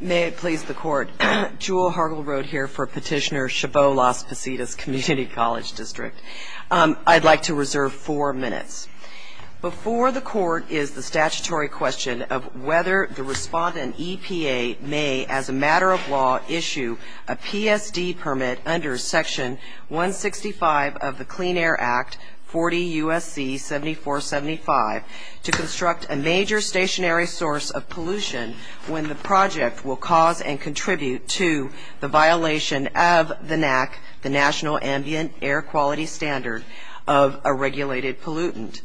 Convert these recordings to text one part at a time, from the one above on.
May it please the Court, Jewel Hargill-Rhode here for Petitioner Chabot-Las Positas Community College District. I'd like to reserve four minutes. Before the Court is the statutory question of whether the respondent, EPA, may, as a matter of law, issue a PSD permit under Section 165 of the Clean Air Act, 40 U.S.C. 7475, to construct a major stationary source of pollution when the project will cause and contribute to the violation of the NAC, the National Ambient Air Quality Standard, of a regulated pollutant.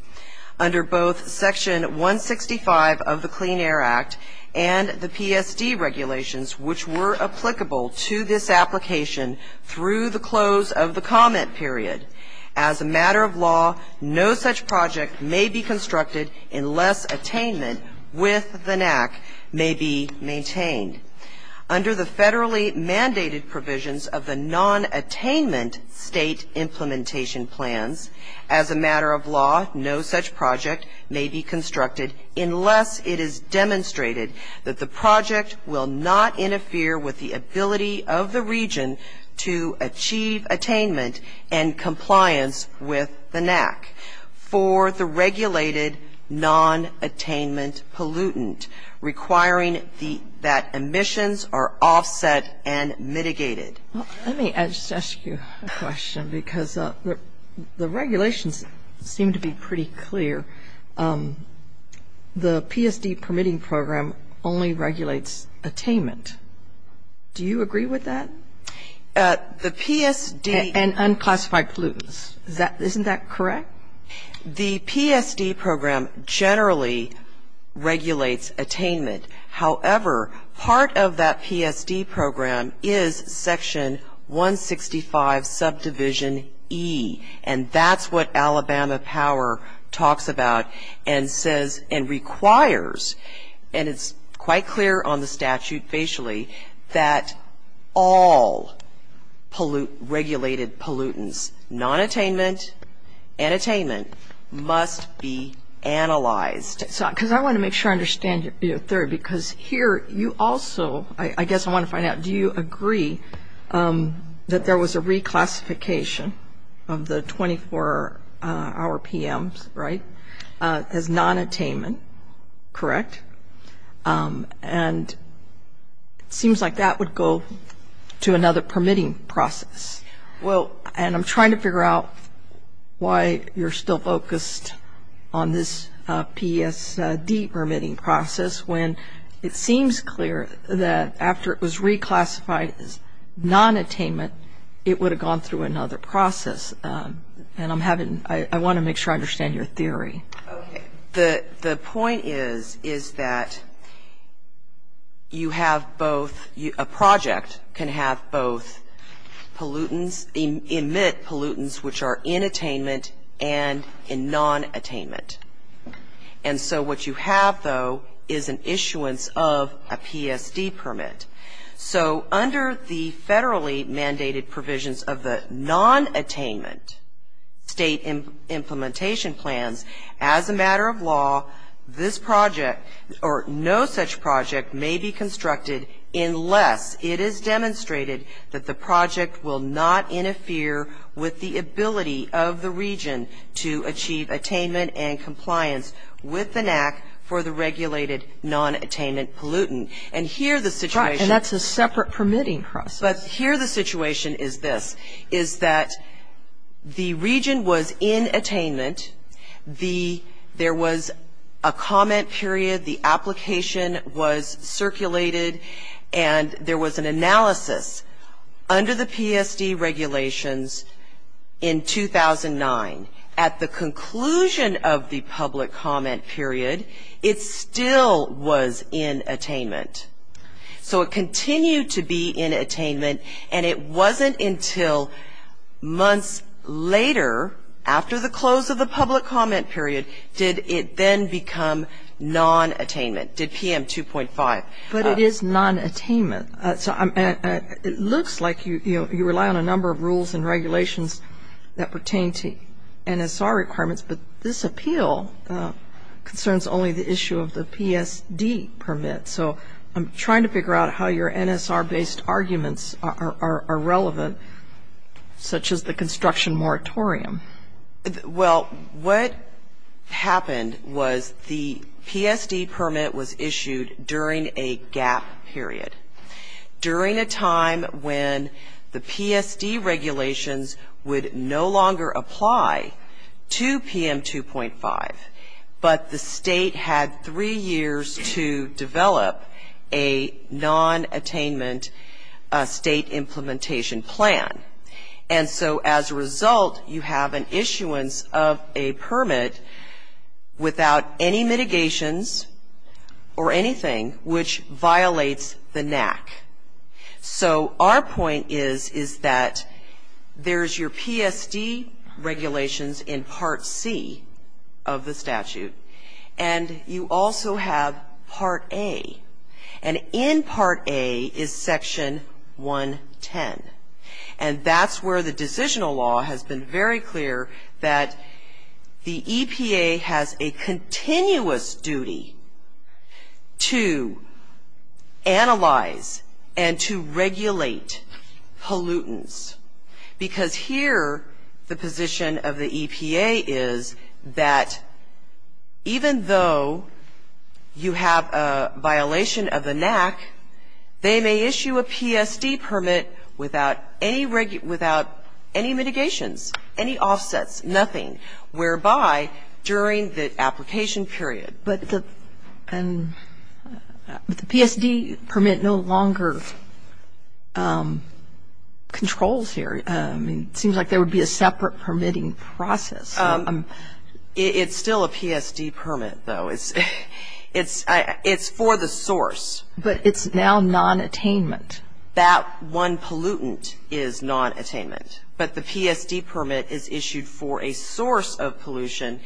Under both Section 165 of the Clean Air Act and the PSD regulations, which were applicable to this application through the close of the comment period, as a matter of law, no such project may be constructed unless attainment with the NAC may be maintained. Under the federally mandated provisions of the non-attainment state implementation plans, as a matter of law, no such project may be constructed unless it is demonstrated that the project will not interfere with the ability of the region to achieve attainment and compliance with the NAC for the regulated non-attainment pollutant, requiring that emissions are offset and mitigated. Let me just ask you a question because the regulations seem to be pretty clear. The PSD permitting program only regulates attainment. Do you agree with that? The PSD And unclassified pollutants. Isn't that correct? The PSD program generally regulates attainment. However, part of that PSD program is Section 165 Subdivision E, and that's what Alabama Power talks about and says and requires, and it's quite clear on the statute facially, that all regulated pollutants, non-attainment and attainment, must be analyzed. Because I want to make sure I understand your theory because here you also, I guess I want to find out, do you agree that there was a reclassification of the 24-hour PMs, right, as non-attainment, correct? And it seems like that would go to another permitting process. Well, and I'm trying to figure out why you're still focused on this PSD permitting process when it seems clear that after it was reclassified as non-attainment, it would have gone through another process. And I want to make sure I understand your theory. The point is, is that you have both, a project can have both pollutants, emit pollutants which are in attainment and in non-attainment. And so what you have, though, is an issuance of a PSD permit. So under the federally mandated provisions of the non-attainment state implementation plans, as a matter of law, this project or no such project may be constructed unless it is demonstrated that the project will not interfere with the ability of the region to achieve attainment and compliance with the NAC for the regulated non-attainment pollutant. And here the situation. And that's a separate permitting process. But here the situation is this, is that the region was in attainment. There was a comment period, the application was circulated, and there was an analysis under the PSD regulations in 2009. At the conclusion of the public comment period, it still was in attainment. So it continued to be in attainment, and it wasn't until months later after the close of the public comment period did it then become non-attainment, did PM 2.5. But it is non-attainment. It looks like you rely on a number of rules and regulations that pertain to NSR requirements, but this appeal concerns only the issue of the PSD permit. So I'm trying to figure out how your NSR-based arguments are relevant, such as the construction moratorium. Well, what happened was the PSD permit was issued during a gap period, during a time when the PSD regulations would no longer apply to PM 2.5, but the state had three years to develop a non-attainment state implementation plan. And so as a result, you have an issuance of a permit without any mitigations or anything, which violates the NAC. So our point is, is that there's your PSD regulations in Part C of the statute, and you also have Part A. And in Part A is Section 110. And that's where the decisional law has been very clear that the EPA has a continuous duty to analyze and to regulate pollutants. Because here the position of the EPA is that even though you have a violation of the NAC, they may issue a PSD permit without any mitigations, any offsets, nothing, whereby during the application period. But the PSD permit no longer controls here. It seems like there would be a separate permitting process. It's still a PSD permit, though. It's for the source. But it's now non-attainment. That one pollutant is non-attainment. But the PSD permit is issued for a source of pollution,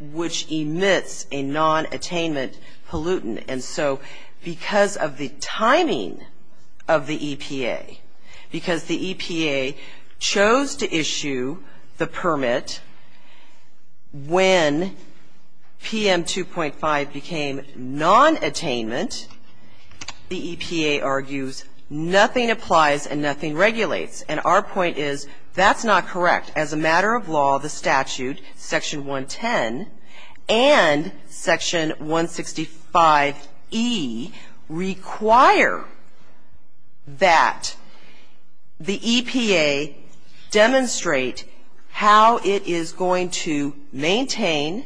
which emits a non-attainment pollutant. And so because of the timing of the EPA, because the EPA chose to issue the permit when PM 2.5 became non-attainment, the EPA argues nothing applies and nothing regulates. And our point is that's not correct. As a matter of law, the statute, Section 110 and Section 165E require that the EPA demonstrate how it is going to maintain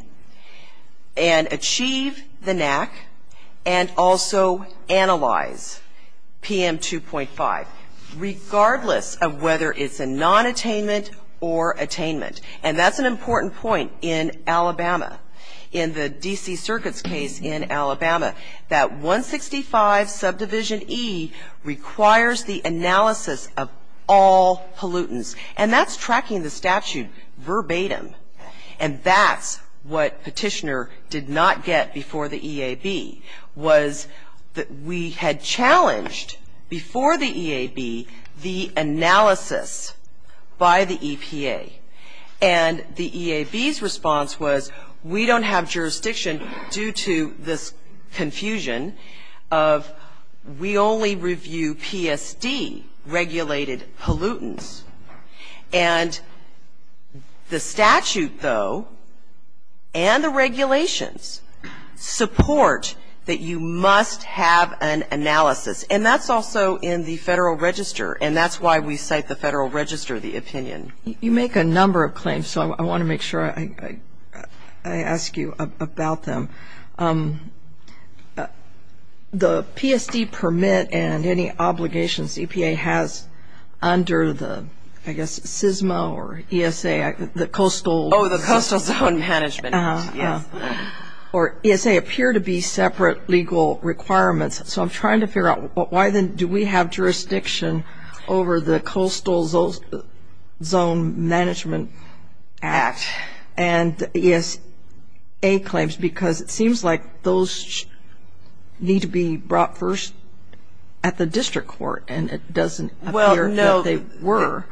and achieve the NAC and also analyze PM 2.5. Regardless of whether it's a non-attainment or attainment. And that's an important point in Alabama. In the D.C. Circuit's case in Alabama, that 165 subdivision E requires the analysis of all pollutants. And that's tracking the statute verbatim. And that's what Petitioner did not get before the EAB, was that we had challenged before the EAB the analysis by the EPA. And the EAB's response was we don't have jurisdiction due to this confusion of we only review PSD-regulated pollutants. And the statute, though, and the regulations support that you must have an analysis. And that's also in the Federal Register. And that's why we cite the Federal Register, the opinion. You make a number of claims, so I want to make sure I ask you about them. The PSD permit and any obligations EPA has under the, I guess, CSMA or ESA, the Coastal. Oh, the Coastal Zone Management Act. Yes. Or ESA appear to be separate legal requirements. So I'm trying to figure out why then do we have jurisdiction over the Coastal Zone Management Act and ESA claims because it seems like those need to be brought first at the district court and it doesn't appear that they were. Well, no.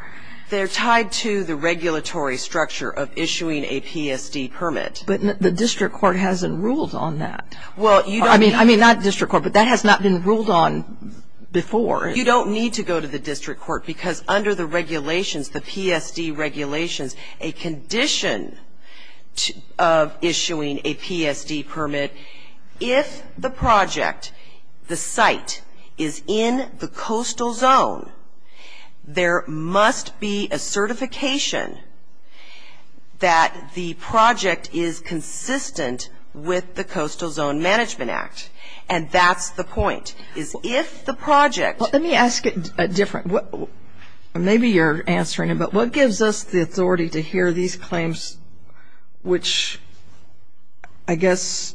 They're tied to the regulatory structure of issuing a PSD permit. But the district court hasn't ruled on that. I mean, not district court, but that has not been ruled on before. You don't need to go to the district court because under the regulations, the PSD regulations, a condition of issuing a PSD permit, if the project, the site, is in the Coastal Zone, there must be a certification that the project is consistent with the Coastal Zone Management Act. And that's the point, is if the project. Let me ask it different. Maybe you're answering it, but what gives us the authority to hear these claims which, I guess,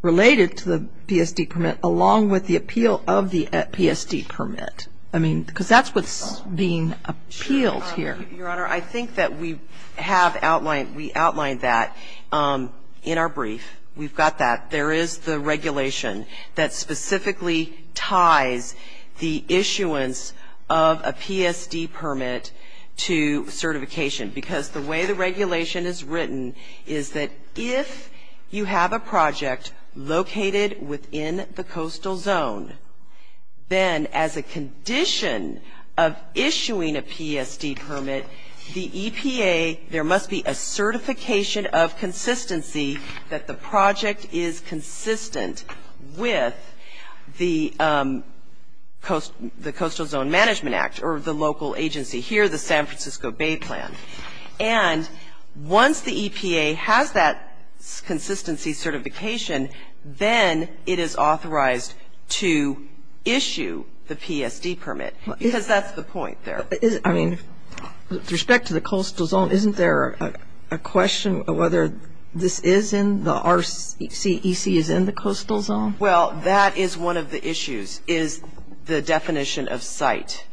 related to the PSD permit along with the appeal of the PSD permit? I mean, because that's what's being appealed here. Your Honor, I think that we have outlined, we outlined that in our brief. We've got that. There is the regulation that specifically ties the issuance of a PSD permit to certification. Because the way the regulation is written is that if you have a project located within the Coastal Zone, then as a condition of issuing a PSD permit, the EPA, there must be a certification of consistency that the project is consistent with the Coastal Zone Management Act or the local agency here, the San Francisco Bay Plan. And once the EPA has that consistency certification, then it is authorized to issue the PSD permit because that's the point there. I mean, with respect to the Coastal Zone, isn't there a question of whether this is in, the RCEC is in the Coastal Zone? Well, that is one of the issues, is the definition of site.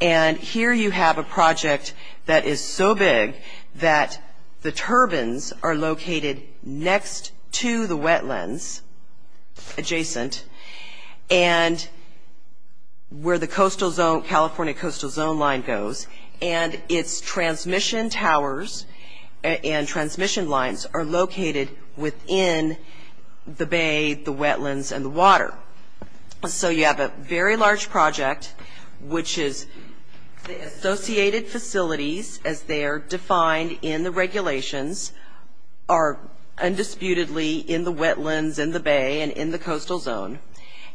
And here you have a project that is so big that the turbines are located next to the wetlands adjacent and where the Coastal Zone, California Coastal Zone line goes, and its transmission towers and transmission lines are located within the bay, the wetlands, and the water. So you have a very large project, which is the associated facilities, as they are defined in the regulations, are undisputedly in the wetlands, in the bay, and in the Coastal Zone.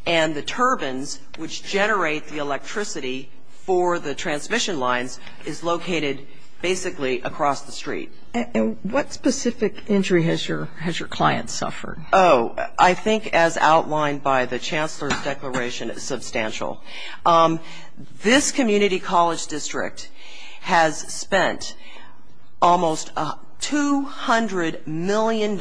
And the turbines, which generate the electricity for the transmission lines, is located basically across the street. And what specific injury has your client suffered? Oh, I think as outlined by the Chancellor's declaration, it's substantial. This community college district has spent almost $200 million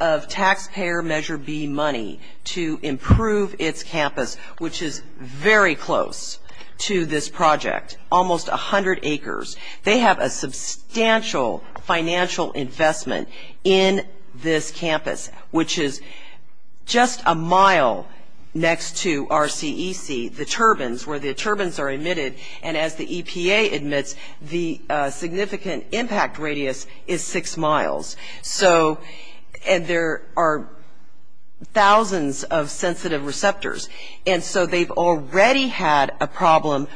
of taxpayer Measure B money to improve its campus, which is very close to this project, almost 100 acres. They have a substantial financial investment in this campus, which is just a mile next to RCEC, the turbines, where the turbines are emitted, and as the EPA admits, the significant impact radius is six miles. And there are thousands of sensitive receptors. And so they've already had a problem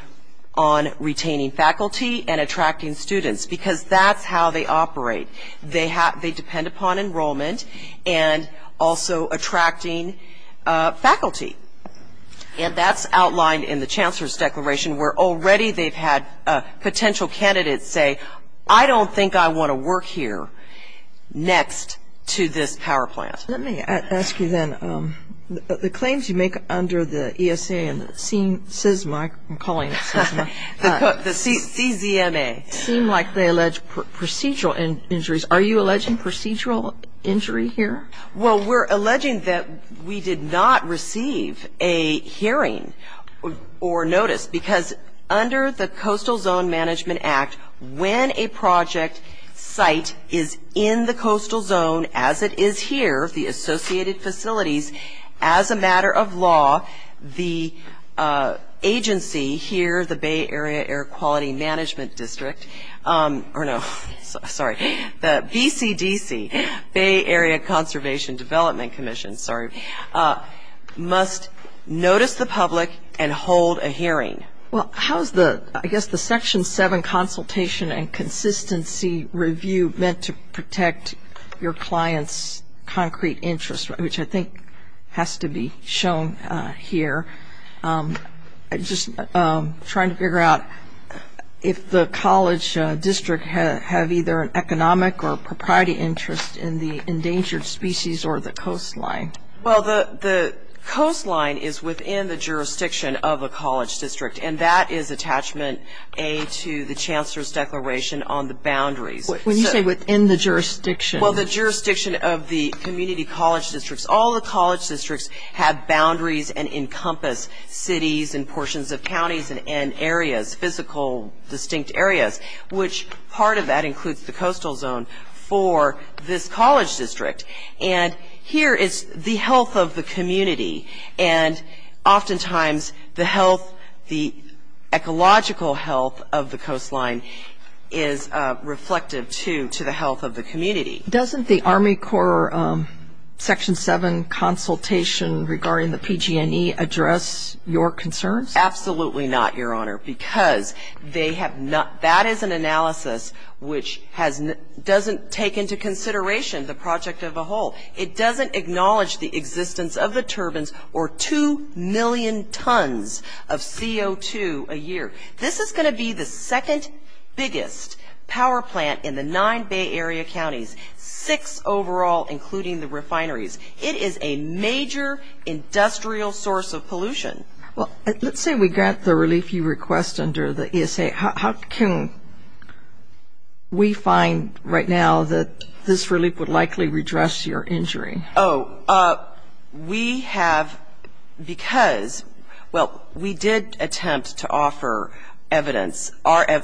on retaining faculty and attracting students, because that's how they operate. They depend upon enrollment and also attracting faculty. And that's outlined in the Chancellor's declaration, where already they've had potential candidates say, I don't think I want to work here next to this power plant. Let me ask you then, the claims you make under the ESA and the CSMA, I'm calling it CSMA, the CCMA, seem like they allege procedural injuries. Are you alleging procedural injury here? Well, we're alleging that we did not receive a hearing or notice, because under the Coastal Zone Management Act, when a project site is in the coastal zone as it is here, the associated facilities, as a matter of law, the agency here, the Bay Area Air Quality Management District, or no, sorry, the BCDC, Bay Area Conservation Development Commission, sorry, must notice the public and hold a hearing. Well, how is the, I guess, the Section 7 consultation and consistency review meant to protect your client's concrete interest, which I think has to be shown here? I'm just trying to figure out if the college district have either an economic or a propriety interest in the endangered species or the coastline. Well, the coastline is within the jurisdiction of a college district, and that is attachment A to the Chancellor's Declaration on the boundaries. When you say within the jurisdiction? Well, the jurisdiction of the community college districts. All the college districts have boundaries and encompass cities and portions of counties and areas, physical distinct areas, which part of that includes the coastal zone for this college district. And here is the health of the community, and oftentimes the health, the ecological health of the coastline is reflective, too, to the health of the community. Doesn't the Army Corps Section 7 consultation regarding the PG&E address your concerns? Absolutely not, Your Honor, because they have not, that is an analysis which doesn't take into consideration the project of a whole. It doesn't acknowledge the existence of the turbines or 2 million tons of CO2 a year. This is going to be the second biggest power plant in the nine Bay Area counties, six overall including the refineries. It is a major industrial source of pollution. Well, let's say we got the relief you request under the ESA. How can we find right now that this relief would likely redress your injury? Oh, we have, because, well, we did attempt to offer evidence,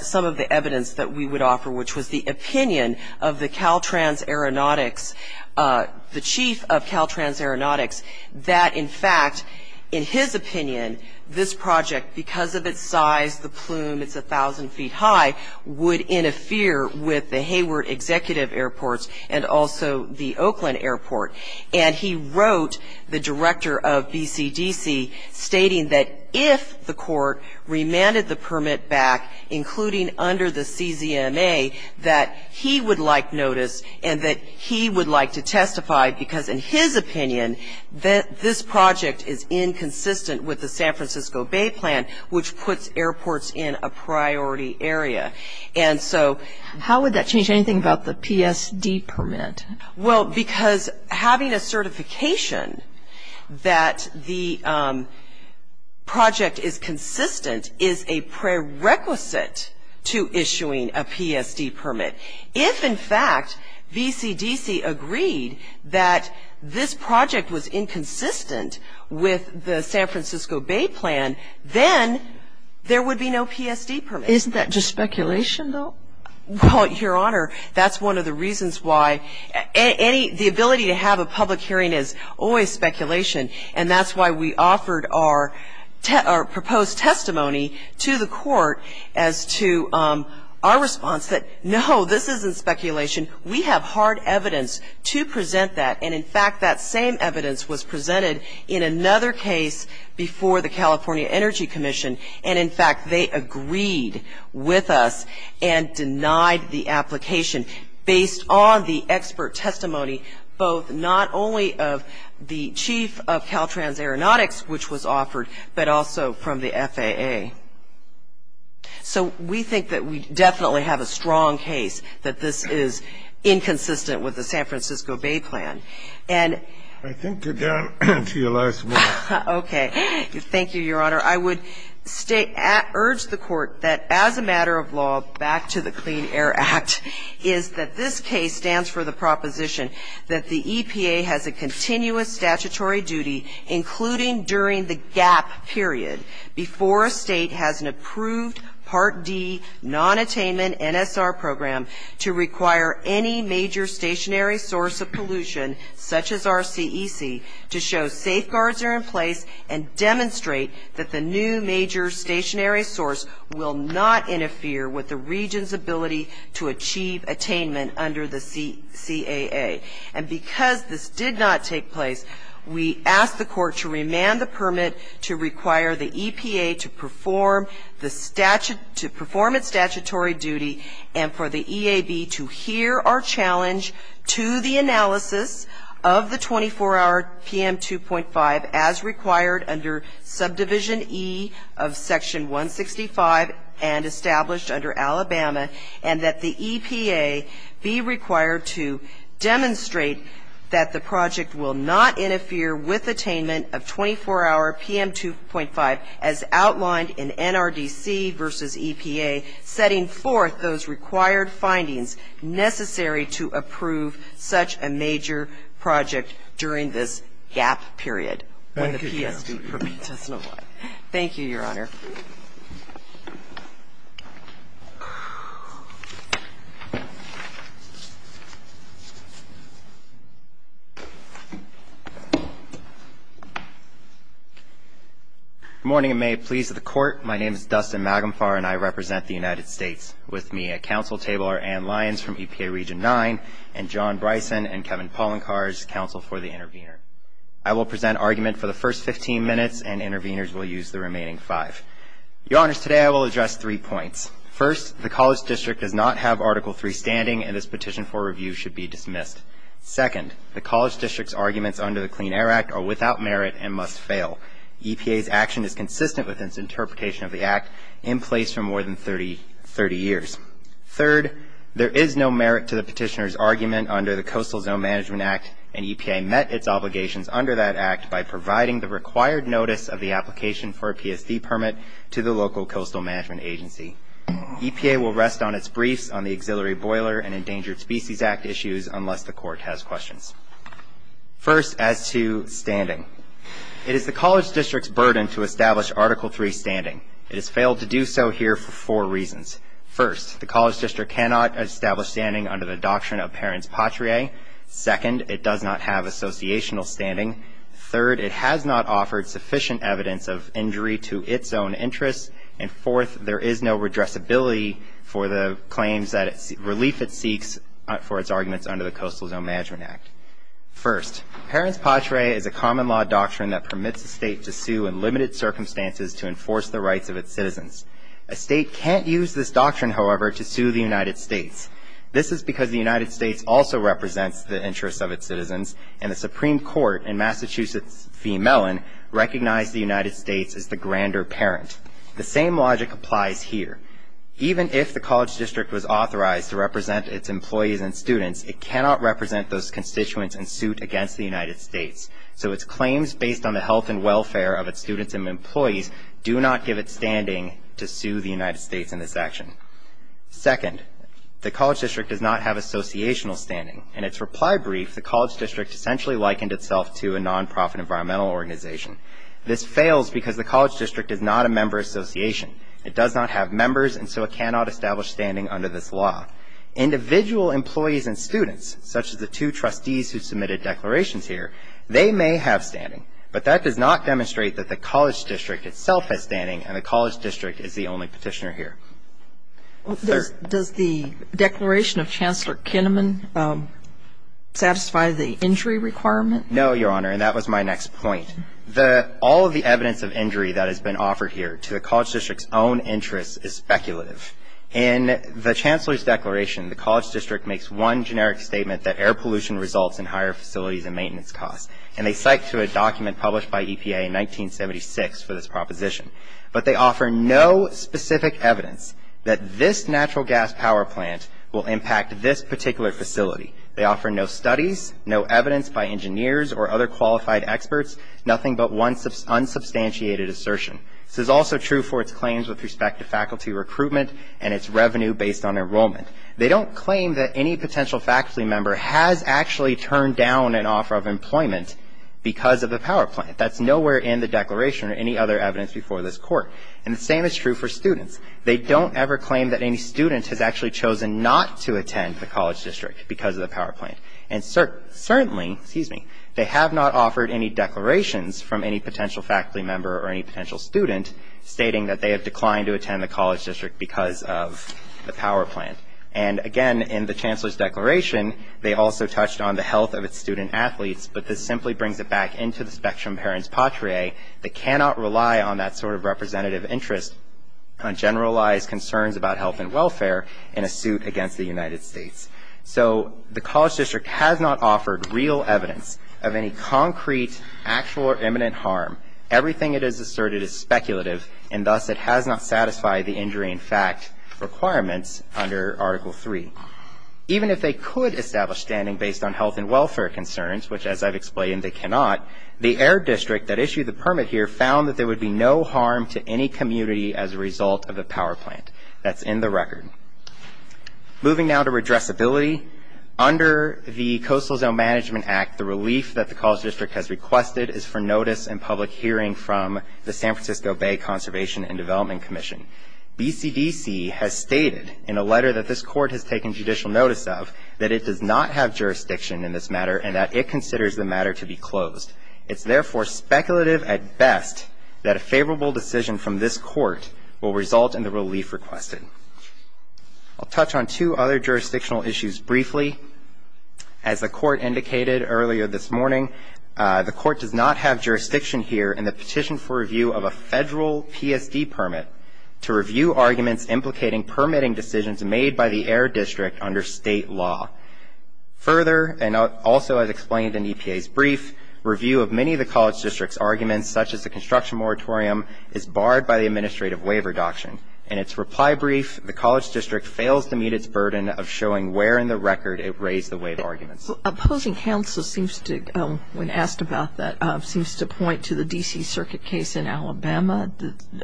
some of the evidence that we would offer, which was the opinion of the Caltrans Aeronautics, the chief of Caltrans Aeronautics, that, in fact, in his opinion, this project, because of its size, the plume, it's 1,000 feet high, would interfere with the Hayward Executive Airports and also the Oakland Airport. And he wrote the director of BCDC stating that if the court remanded the permit back, including under the CZMA, that he would like notice and that he would like to testify because, in his opinion, this project is inconsistent with the San Francisco Bay Plan, which puts airports in a priority area. And so how would that change anything about the PSD permit? Well, because having a certification that the project is consistent is a prerequisite to issuing a PSD permit. If, in fact, BCDC agreed that this project was inconsistent with the San Francisco Bay Plan, then there would be no PSD permit. Isn't that just speculation, though? Well, Your Honor, that's one of the reasons why any ‑‑ the ability to have a public hearing is always speculation, and that's why we offered our proposed testimony to the court as to our response, that, no, this isn't speculation. We have hard evidence to present that, and, in fact, that same evidence was presented in another case before the California Energy Commission, and, in fact, they agreed with us and denied the application based on the expert testimony, both not only of the chief of Caltrans Aeronautics, which was offered, but also from the FAA. So we think that we definitely have a strong case that this is inconsistent with the San Francisco Bay Plan. And ‑‑ I think you're down to your last word. Okay. Thank you, Your Honor. I would urge the court that, as a matter of law, back to the Clean Air Act, is that this case stands for the proposition that the EPA has a continuous statutory duty, including during the gap period, before a state has an approved Part D nonattainment NSR program to require any major stationary source of pollution, such as RCEC, to show safeguards are in place and demonstrate that the new major stationary source will not interfere with the region's ability to achieve attainment under the CAA. And because this did not take place, we ask the court to remand the permit to require the EPA to perform its statutory duty and for the EAB to hear our challenge to the analysis of the 24‑hour PM 2.5 as required under Subdivision E of Section 165 and established under Alabama, and that the EPA be required to demonstrate that the project will not interfere with attainment of 24‑hour PM 2.5 as outlined in NRDC versus EPA, setting forth those required findings necessary to approve such a major project during this gap period when the PSB permits us to apply. Thank you, Your Honor. Good morning, and may it please the Court. My name is Dustin Magumfar, and I represent the United States. With me at counsel table are Ann Lyons from EPA Region 9 and John Bryson and Kevin Pollencarz, counsel for the intervener. I will present argument for the first 15 minutes, and interveners will use the remaining five. Your Honors, today I will address three points. First, the College District does not have Article III standing, and this petition for review should be dismissed. Second, the College District's arguments under the Clean Air Act are without merit and must fail. EPA's action is consistent with its interpretation of the Act in place for more than 30 years. Third, there is no merit to the petitioner's argument under the Coastal Zone Management Act, and EPA met its obligations under that Act by providing the required notice of the application for a PSD permit to the local coastal management agency. EPA will rest on its briefs on the Auxiliary Boiler and Endangered Species Act issues unless the Court has questions. First, as to standing, it is the College District's burden to establish Article III standing. It has failed to do so here for four reasons. First, the College District cannot establish standing under the Doctrine of Parents Patrie. Second, it does not have associational standing. Third, it has not offered sufficient evidence of injury to its own interests. And fourth, there is no redressability for the claims that relief it seeks for its arguments under the Coastal Zone Management Act. First, Parents Patrie is a common law doctrine that permits a state to sue in limited circumstances to enforce the rights of its citizens. A state can't use this doctrine, however, to sue the United States. This is because the United States also represents the interests of its citizens, and the Supreme Court in Massachusetts v. Mellon recognized the United States as the grander parent. The same logic applies here. Even if the College District was authorized to represent its employees and students, it cannot represent those constituents and suit against the United States. So its claims based on the health and welfare of its students and employees do not give it standing to sue the United States in this action. Second, the College District does not have associational standing. In its reply brief, the College District essentially likened itself to a nonprofit environmental organization. This fails because the College District is not a member association. It does not have members, and so it cannot establish standing under this law. Individual employees and students, such as the two trustees who submitted declarations here, they may have standing, but that does not demonstrate that the College District itself has standing, and the College District is the only petitioner here. Does the declaration of Chancellor Kinnaman satisfy the injury requirement? No, Your Honor, and that was my next point. All of the evidence of injury that has been offered here to the College District's own interests is speculative. In the Chancellor's declaration, the College District makes one generic statement that air pollution results in higher facilities and maintenance costs, and they cite to a document published by EPA in 1976 for this proposition. But they offer no specific evidence that this natural gas power plant will impact this particular facility. They offer no studies, no evidence by engineers or other qualified experts, nothing but one unsubstantiated assertion. This is also true for its claims with respect to faculty recruitment and its revenue based on enrollment. They don't claim that any potential faculty member has actually turned down an offer of employment because of a power plant. That's nowhere in the declaration or any other evidence before this Court. And the same is true for students. They don't ever claim that any student has actually chosen not to attend the College District because of the power plant. And certainly, they have not offered any declarations from any potential faculty member or any potential student stating that they have declined to attend the College District because of the power plant. And again, in the Chancellor's declaration, they also touched on the health of its student-athletes, but this simply brings it back into the spectrum of parents patriae that cannot rely on that sort of representative interest on generalized concerns about health and welfare in a suit against the United States. So the College District has not offered real evidence of any concrete actual or imminent harm. Everything it has asserted is speculative, and thus it has not satisfied the injury in fact requirements under Article 3. Even if they could establish standing based on health and welfare concerns, which as I've explained, they cannot, the Air District that issued the permit here found that there would be no harm to any community as a result of a power plant. That's in the record. Moving now to redressability. Under the Coastal Zone Management Act, the relief that the College District has requested is for notice and public hearing from the San Francisco Bay Conservation and Development Commission. BCDC has stated in a letter that this Court has taken judicial notice of that it does not have jurisdiction in this matter and that it considers the matter to be closed. It's therefore speculative at best that a favorable decision from this Court will result in the relief requested. I'll touch on two other jurisdictional issues briefly. As the Court indicated earlier this morning, the Court does not have jurisdiction here in the petition for review of a federal PSD permit to review arguments implicating permitting decisions made by the Air District under state law. Further, and also as explained in EPA's brief, review of many of the College District's arguments, such as the construction moratorium, is barred by the Administrative Waiver Doctrine. In its reply brief, the College District fails to meet its burden of showing where in the record it raised the waiver arguments. Opposing counsel seems to, when asked about that, seems to point to the D.C. Circuit case in Alabama.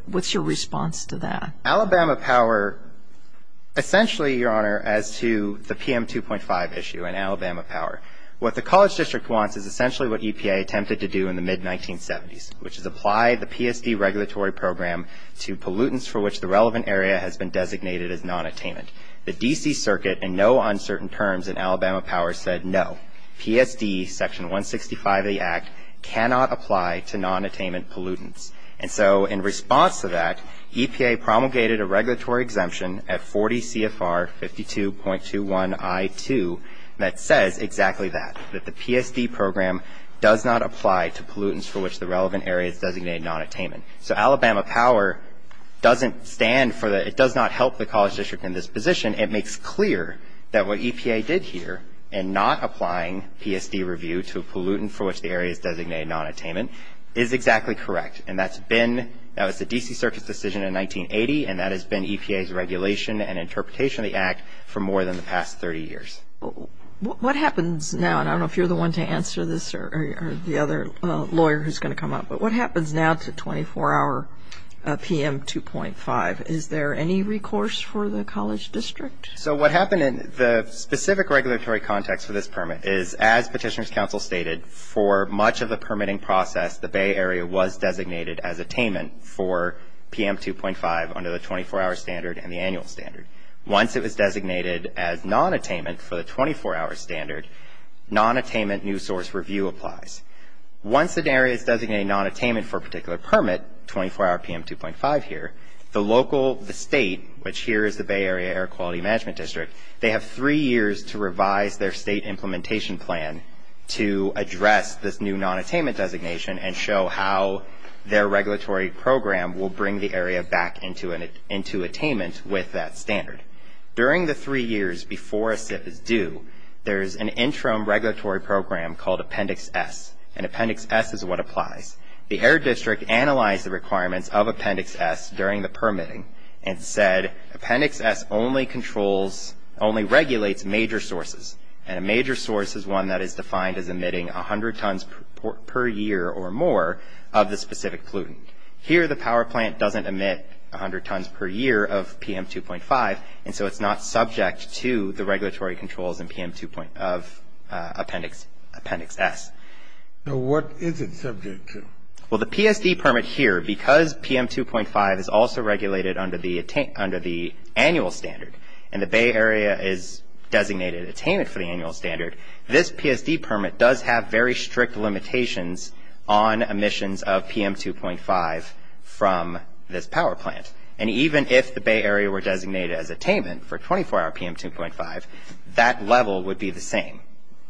What's your response to that? Alabama Power, essentially, Your Honor, as to the PM 2.5 issue in Alabama Power, what the College District wants is essentially what EPA attempted to do in the mid-1970s, which is apply the PSD regulatory program to pollutants for which the relevant area has been designated as nonattainment. The D.C. Circuit, in no uncertain terms in Alabama Power, said no. PSD, Section 165 of the Act, cannot apply to nonattainment pollutants. And so in response to that, EPA promulgated a regulatory exemption at 40 CFR 52.21I2 that says exactly that, that the PSD program does not apply to pollutants for which the relevant area is designated nonattainment. So Alabama Power doesn't stand for the, it does not help the College District in this position. It makes clear that what EPA did here in not applying PSD review to a pollutant for which the area is designated nonattainment is exactly correct. And that's been, that was the D.C. Circuit's decision in 1980, and that has been EPA's regulation and interpretation of the Act for more than the past 30 years. What happens now, and I don't know if you're the one to answer this or the other lawyer who's going to come up, but what happens now to 24-hour PM 2.5? Is there any recourse for the College District? So what happened in the specific regulatory context for this permit is, as Petitioner's Counsel stated, for much of the permitting process, the Bay Area was designated as attainment for PM 2.5 under the 24-hour standard and the annual standard. Once it was designated as nonattainment for the 24-hour standard, nonattainment new source review applies. Once an area is designated nonattainment for a particular permit, 24-hour PM 2.5 here, the local, the state, which here is the Bay Area Air Quality Management District, they have three years to revise their state implementation plan to address this new nonattainment designation and show how their regulatory program will bring the area back into attainment with that standard. During the three years before a SIP is due, there's an interim regulatory program called Appendix S, and Appendix S is what applies. The Air District analyzed the requirements of Appendix S during the permitting and said, Appendix S only controls, only regulates major sources, and a major source is one that is defined as emitting 100 tons per year or more of the specific pollutant. Here, the power plant doesn't emit 100 tons per year of PM 2.5, and so it's not subject to the regulatory controls in Appendix S. So what is it subject to? Well, the PSD permit here, because PM 2.5 is also regulated under the annual standard and the Bay Area is designated attainment for the annual standard, this PSD permit does have very strict limitations on emissions of PM 2.5 from this power plant, and even if the Bay Area were designated as attainment for 24-hour PM 2.5, that level would be the same.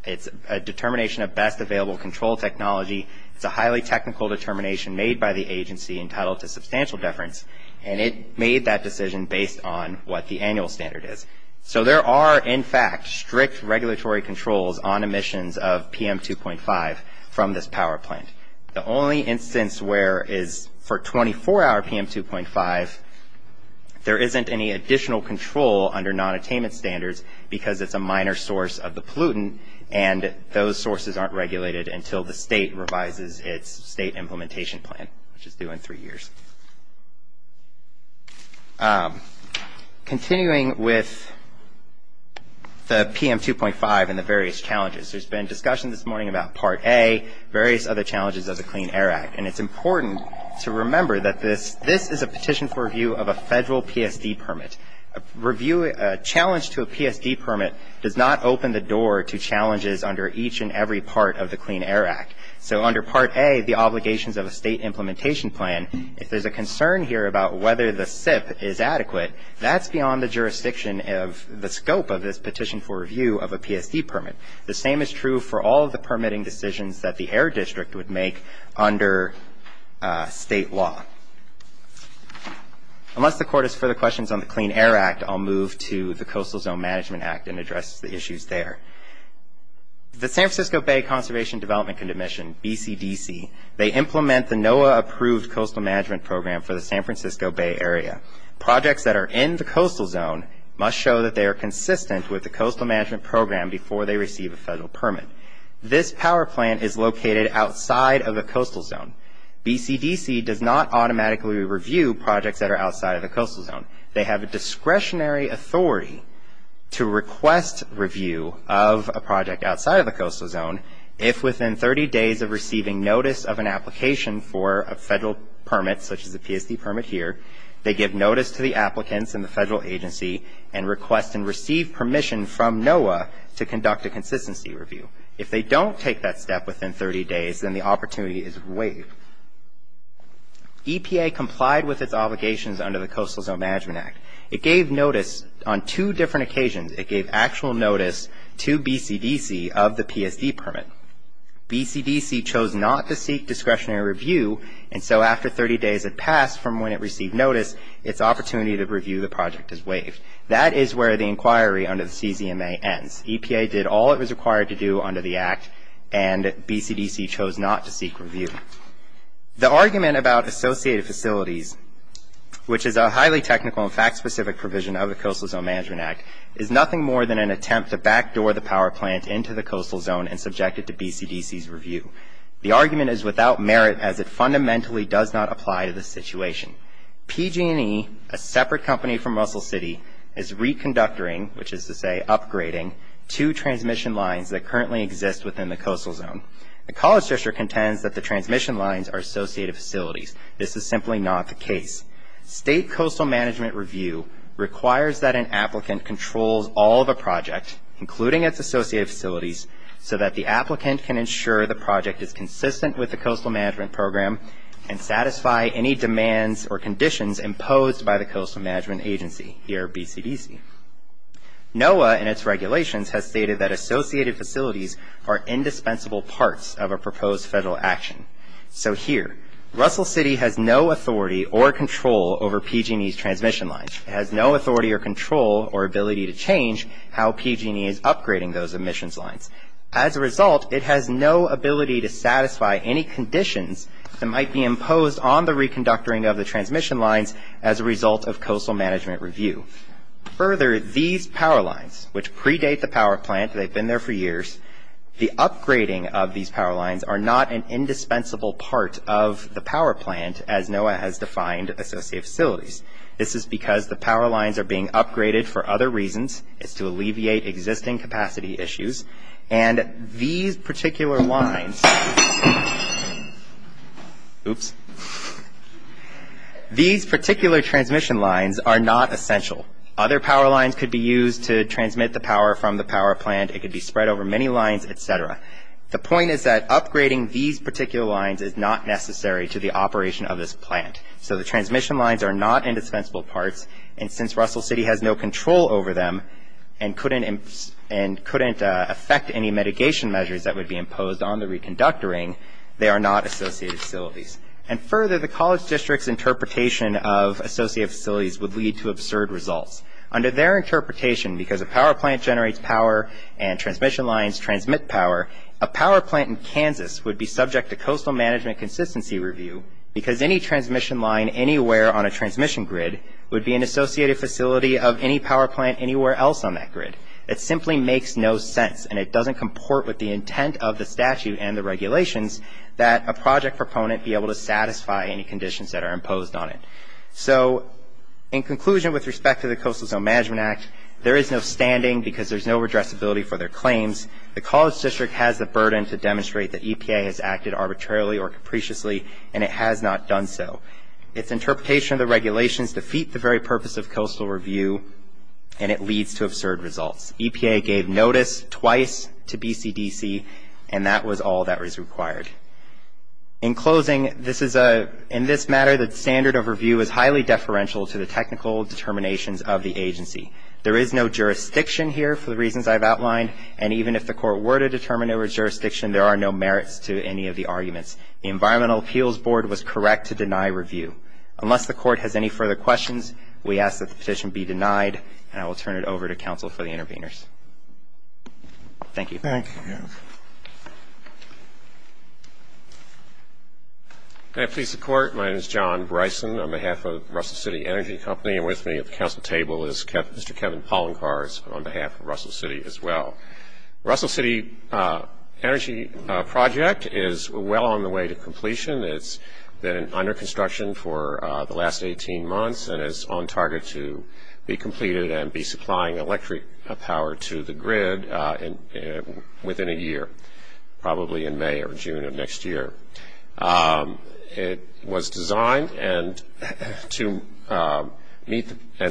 It's a determination of best available control technology. It's a highly technical determination made by the agency entitled to substantial deference, and it made that decision based on what the annual standard is. So there are, in fact, strict regulatory controls on emissions of PM 2.5 from this power plant. The only instance where is for 24-hour PM 2.5, there isn't any additional control under non-attainment standards because it's a minor source of the pollutant, and those sources aren't regulated until the state revises its state implementation plan, which is due in three years. Continuing with the PM 2.5 and the various challenges, there's been discussion this morning about Part A, various other challenges of the Clean Air Act, and it's important to remember that this is a petition for review of a federal PSD permit. A challenge to a PSD permit does not open the door to challenges under each and every part of the Clean Air Act. So under Part A, the obligations of a state implementation plan, if there's a concern here about whether the SIP is adequate, that's beyond the jurisdiction of the scope of this petition for review of a PSD permit. The same is true for all of the permitting decisions that the Air District would make under state law. Unless the Court has further questions on the Clean Air Act, I'll move to the Coastal Zone Management Act and address the issues there. The San Francisco Bay Conservation Development Commission, BCDC, they implement the NOAA-approved coastal management program for the San Francisco Bay Area. Projects that are in the coastal zone must show that they are consistent with the coastal management program before they receive a federal permit. This power plant is located outside of the coastal zone. BCDC does not automatically review projects that are outside of the coastal zone. They have a discretionary authority to request review of a project outside of the coastal zone if within 30 days of receiving notice of an application for a federal permit, such as a PSD permit here, they give notice to the applicants and the federal agency and request and receive permission from NOAA to conduct a consistency review. If they don't take that step within 30 days, then the opportunity is waived. EPA complied with its obligations under the Coastal Zone Management Act. It gave notice on two different occasions. It gave actual notice to BCDC of the PSD permit. BCDC chose not to seek discretionary review, and so after 30 days had passed from when it received notice, its opportunity to review the project is waived. That is where the inquiry under the CZMA ends. EPA did all it was required to do under the Act, and BCDC chose not to seek review. The argument about associated facilities, which is a highly technical and fact-specific provision of the Coastal Zone Management Act, is nothing more than an attempt to backdoor the power plant into the coastal zone and subject it to BCDC's review. The argument is without merit, as it fundamentally does not apply to the situation. PG&E, a separate company from Russell City, is reconductoring, which is to say upgrading, two transmission lines that currently exist within the coastal zone. The College District contends that the transmission lines are associated facilities. This is simply not the case. State coastal management review requires that an applicant controls all of a project, including its associated facilities, so that the applicant can ensure the project is consistent with the coastal management program and satisfy any demands or conditions imposed by the coastal management agency, here BCDC. NOAA, in its regulations, has stated that associated facilities are indispensable parts of a proposed federal action. So here, Russell City has no authority or control over PG&E's transmission lines. It has no authority or control or ability to change how PG&E is upgrading those emissions lines. As a result, it has no ability to satisfy any conditions that might be imposed on the reconductoring of the transmission lines as a result of coastal management review. Further, these power lines, which predate the power plant, they've been there for years, the upgrading of these power lines are not an indispensable part of the power plant, as NOAA has defined associated facilities. This is because the power lines are being upgraded for other reasons. It's to alleviate existing capacity issues. And these particular lines... Oops. These particular transmission lines are not essential. Other power lines could be used to transmit the power from the power plant. It could be spread over many lines, et cetera. The point is that upgrading these particular lines is not necessary to the operation of this plant. So the transmission lines are not indispensable parts. And since Russell City has no control over them and couldn't affect any mitigation measures that would be imposed on the reconductoring, they are not associated facilities. And further, the college district's interpretation of associated facilities would lead to absurd results. Under their interpretation, because a power plant generates power and transmission lines transmit power, a power plant in Kansas would be subject to coastal management consistency review because any transmission line anywhere on a transmission grid would be an associated facility of any power plant anywhere else on that grid. It simply makes no sense and it doesn't comport with the intent of the statute and the regulations that a project proponent be able to satisfy any conditions that are imposed on it. So in conclusion, with respect to the Coastal Zone Management Act, there is no standing because there's no redressability for their claims. The college district has the burden to demonstrate that EPA has acted arbitrarily or capriciously, and it has not done so. Its interpretation of the regulations defeat the very purpose of coastal review, and it leads to absurd results. EPA gave notice twice to BCDC, and that was all that was required. In closing, in this matter, the standard of review is highly deferential to the technical determinations of the agency. There is no jurisdiction here for the reasons I've outlined, and even if the court were to determine jurisdiction, there are no merits to any of the arguments. The Environmental Appeals Board was correct to deny review. Unless the court has any further questions, we ask that the petition be denied, and I will turn it over to counsel for the interveners. Thank you. Thank you. May it please the Court, my name is John Bryson. On behalf of Russell City Energy Company, and with me at the council table is Mr. Kevin Poloncarz on behalf of Russell City as well. Russell City Energy Project is well on the way to completion. It's been under construction for the last 18 months and is on target to be completed and be supplying electric power to the grid. Within a year, probably in May or June of next year. It was designed and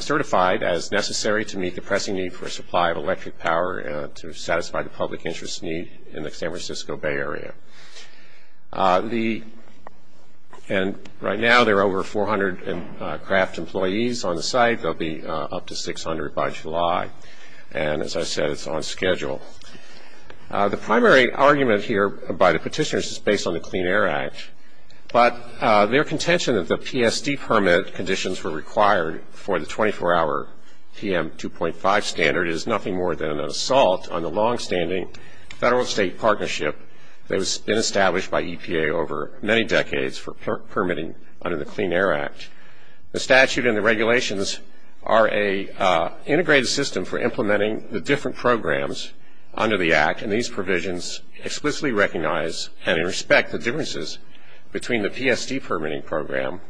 certified as necessary to meet the pressing need for a supply of electric power to satisfy the public interest need in the San Francisco Bay Area. Right now there are over 400 craft employees on the site. There will be up to 600 by July. And as I said, it's on schedule. The primary argument here by the petitioners is based on the Clean Air Act. But their contention that the PSD permit conditions were required for the 24-hour PM 2.5 standard is nothing more than an assault on the longstanding federal state partnership that has been established by EPA over many decades for permitting under the Clean Air Act. The statute and the regulations are an integrated system for implementing the different programs under the Act. And these provisions explicitly recognize and respect the differences between the PSD permitting program,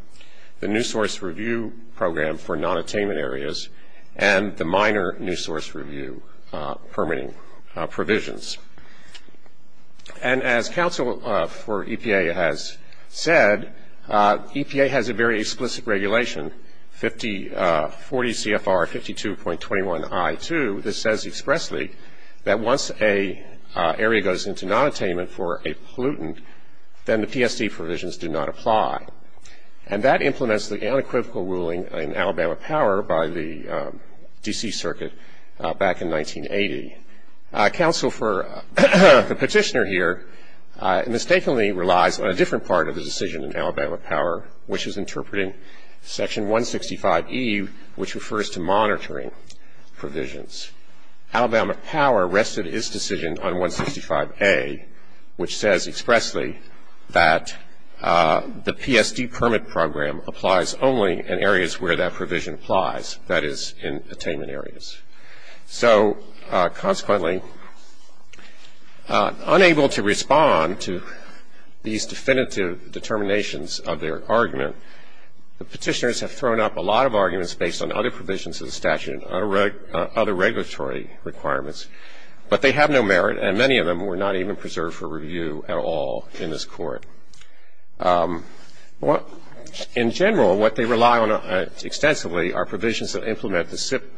the new source review program for non-attainment areas, and the minor new source review permitting provisions. And as counsel for EPA has said, EPA has a very explicit regulation, 40 CFR 52.21I2, that says expressly that once an area goes into non-attainment for a pollutant, then the PSD provisions do not apply. And that implements the unequivocal ruling in Alabama Power by the D.C. Circuit back in 1980. Counsel for the petitioner here mistakenly relies on a different part of the decision in Alabama Power, which is interpreting Section 165E, which refers to monitoring provisions. Alabama Power rested its decision on 165A, which says expressly that the PSD permit program applies only in areas where that provision applies, that is, in attainment areas. So consequently, unable to respond to these definitive determinations of their argument, the petitioners have thrown up a lot of arguments based on other provisions of the statute and other regulatory requirements, but they have no merit, and many of them were not even preserved for review at all in this Court. In general, what they rely on extensively are provisions that implement the SIP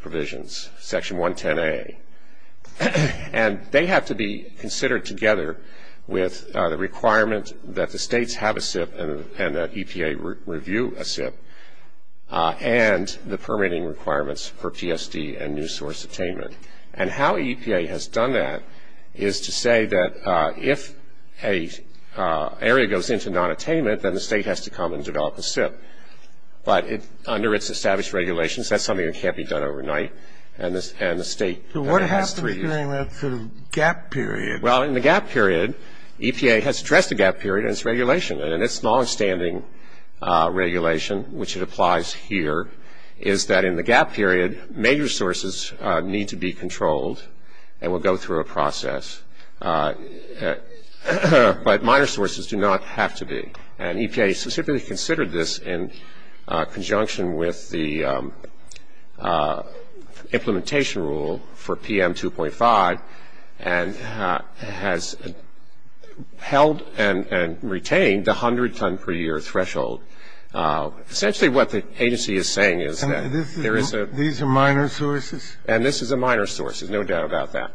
provisions, Section 110A. And they have to be considered together with the requirement that the states have a SIP and that EPA review a SIP and the permitting requirements for PSD and new source attainment. And how EPA has done that is to say that if an area goes into nonattainment, then the state has to come and develop a SIP. But under its established regulations, that's something that can't be done overnight, and the state has to review it. So what happens during that sort of gap period? Well, in the gap period, EPA has addressed the gap period in its regulation, and in its longstanding regulation, which it applies here, is that in the gap period, major sources need to be controlled and will go through a process, but minor sources do not have to be. And EPA specifically considered this in conjunction with the implementation rule for PM 2.5 and has held and retained the 100 ton per year threshold. Essentially what the agency is saying is that there is a -- And these are minor sources? And this is a minor source. There's no doubt about that.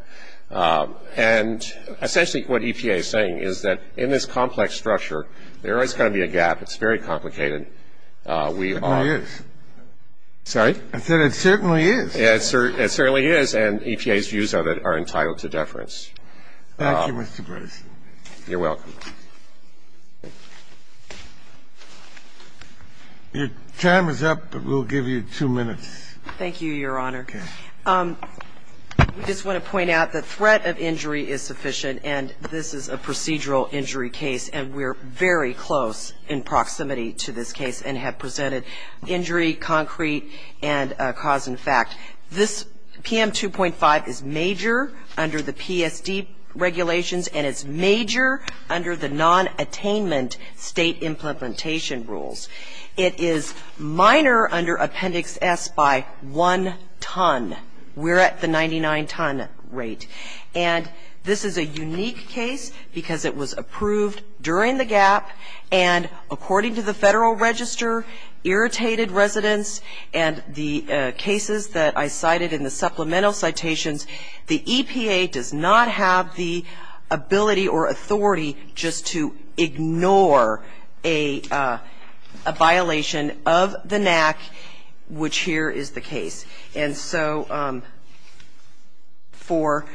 And essentially what EPA is saying is that in this complex structure, there's always going to be a gap. It's very complicated. It certainly is. Sorry? I said it certainly is. It certainly is, and EPA's views of it are entitled to deference. Thank you, Mr. Grayson. You're welcome. Your time is up, but we'll give you two minutes. Thank you, Your Honor. Okay. I just want to point out the threat of injury is sufficient, and this is a procedural injury case, and we're very close in proximity to this case and have presented injury, concrete, and cause and fact. This PM 2.5 is major under the PSD regulations, and it's major under the non-attainment state implementation rules. It is minor under Appendix S by one ton. We're at the 99 ton rate. And this is a unique case because it was approved during the gap, and according to the Federal Register, irritated residents and the cases that I cited in the supplemental citations, the EPA does not have the ability or authority just to ignore a violation of the NAC, which here is the case. And so for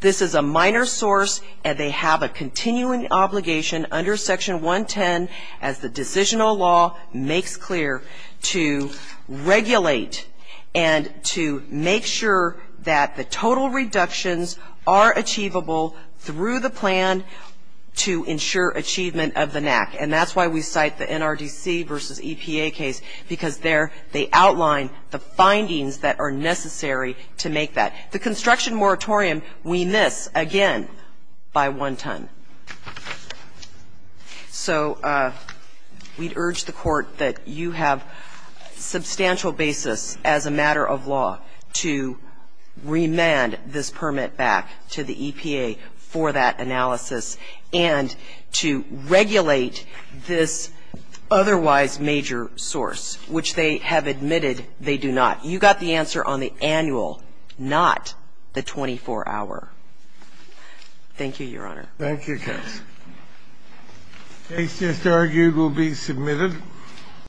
this is a minor source, and they have a continuing obligation under Section 110 as the decisional law makes clear to regulate and to make sure that the total reductions are achievable through the plan to ensure achievement of the NAC. And that's why we cite the NRDC versus EPA case, because there they outline the findings that are necessary to make that. The construction moratorium we miss, again, by one ton. So we'd urge the Court that you have substantial basis as a matter of law to remand this permit back to the EPA for that analysis and to regulate this otherwise major source, which they have admitted they do not. You got the answer on the annual, not the 24-hour. Thank you, Your Honor. Thank you, Counsel. The case just argued will be submitted.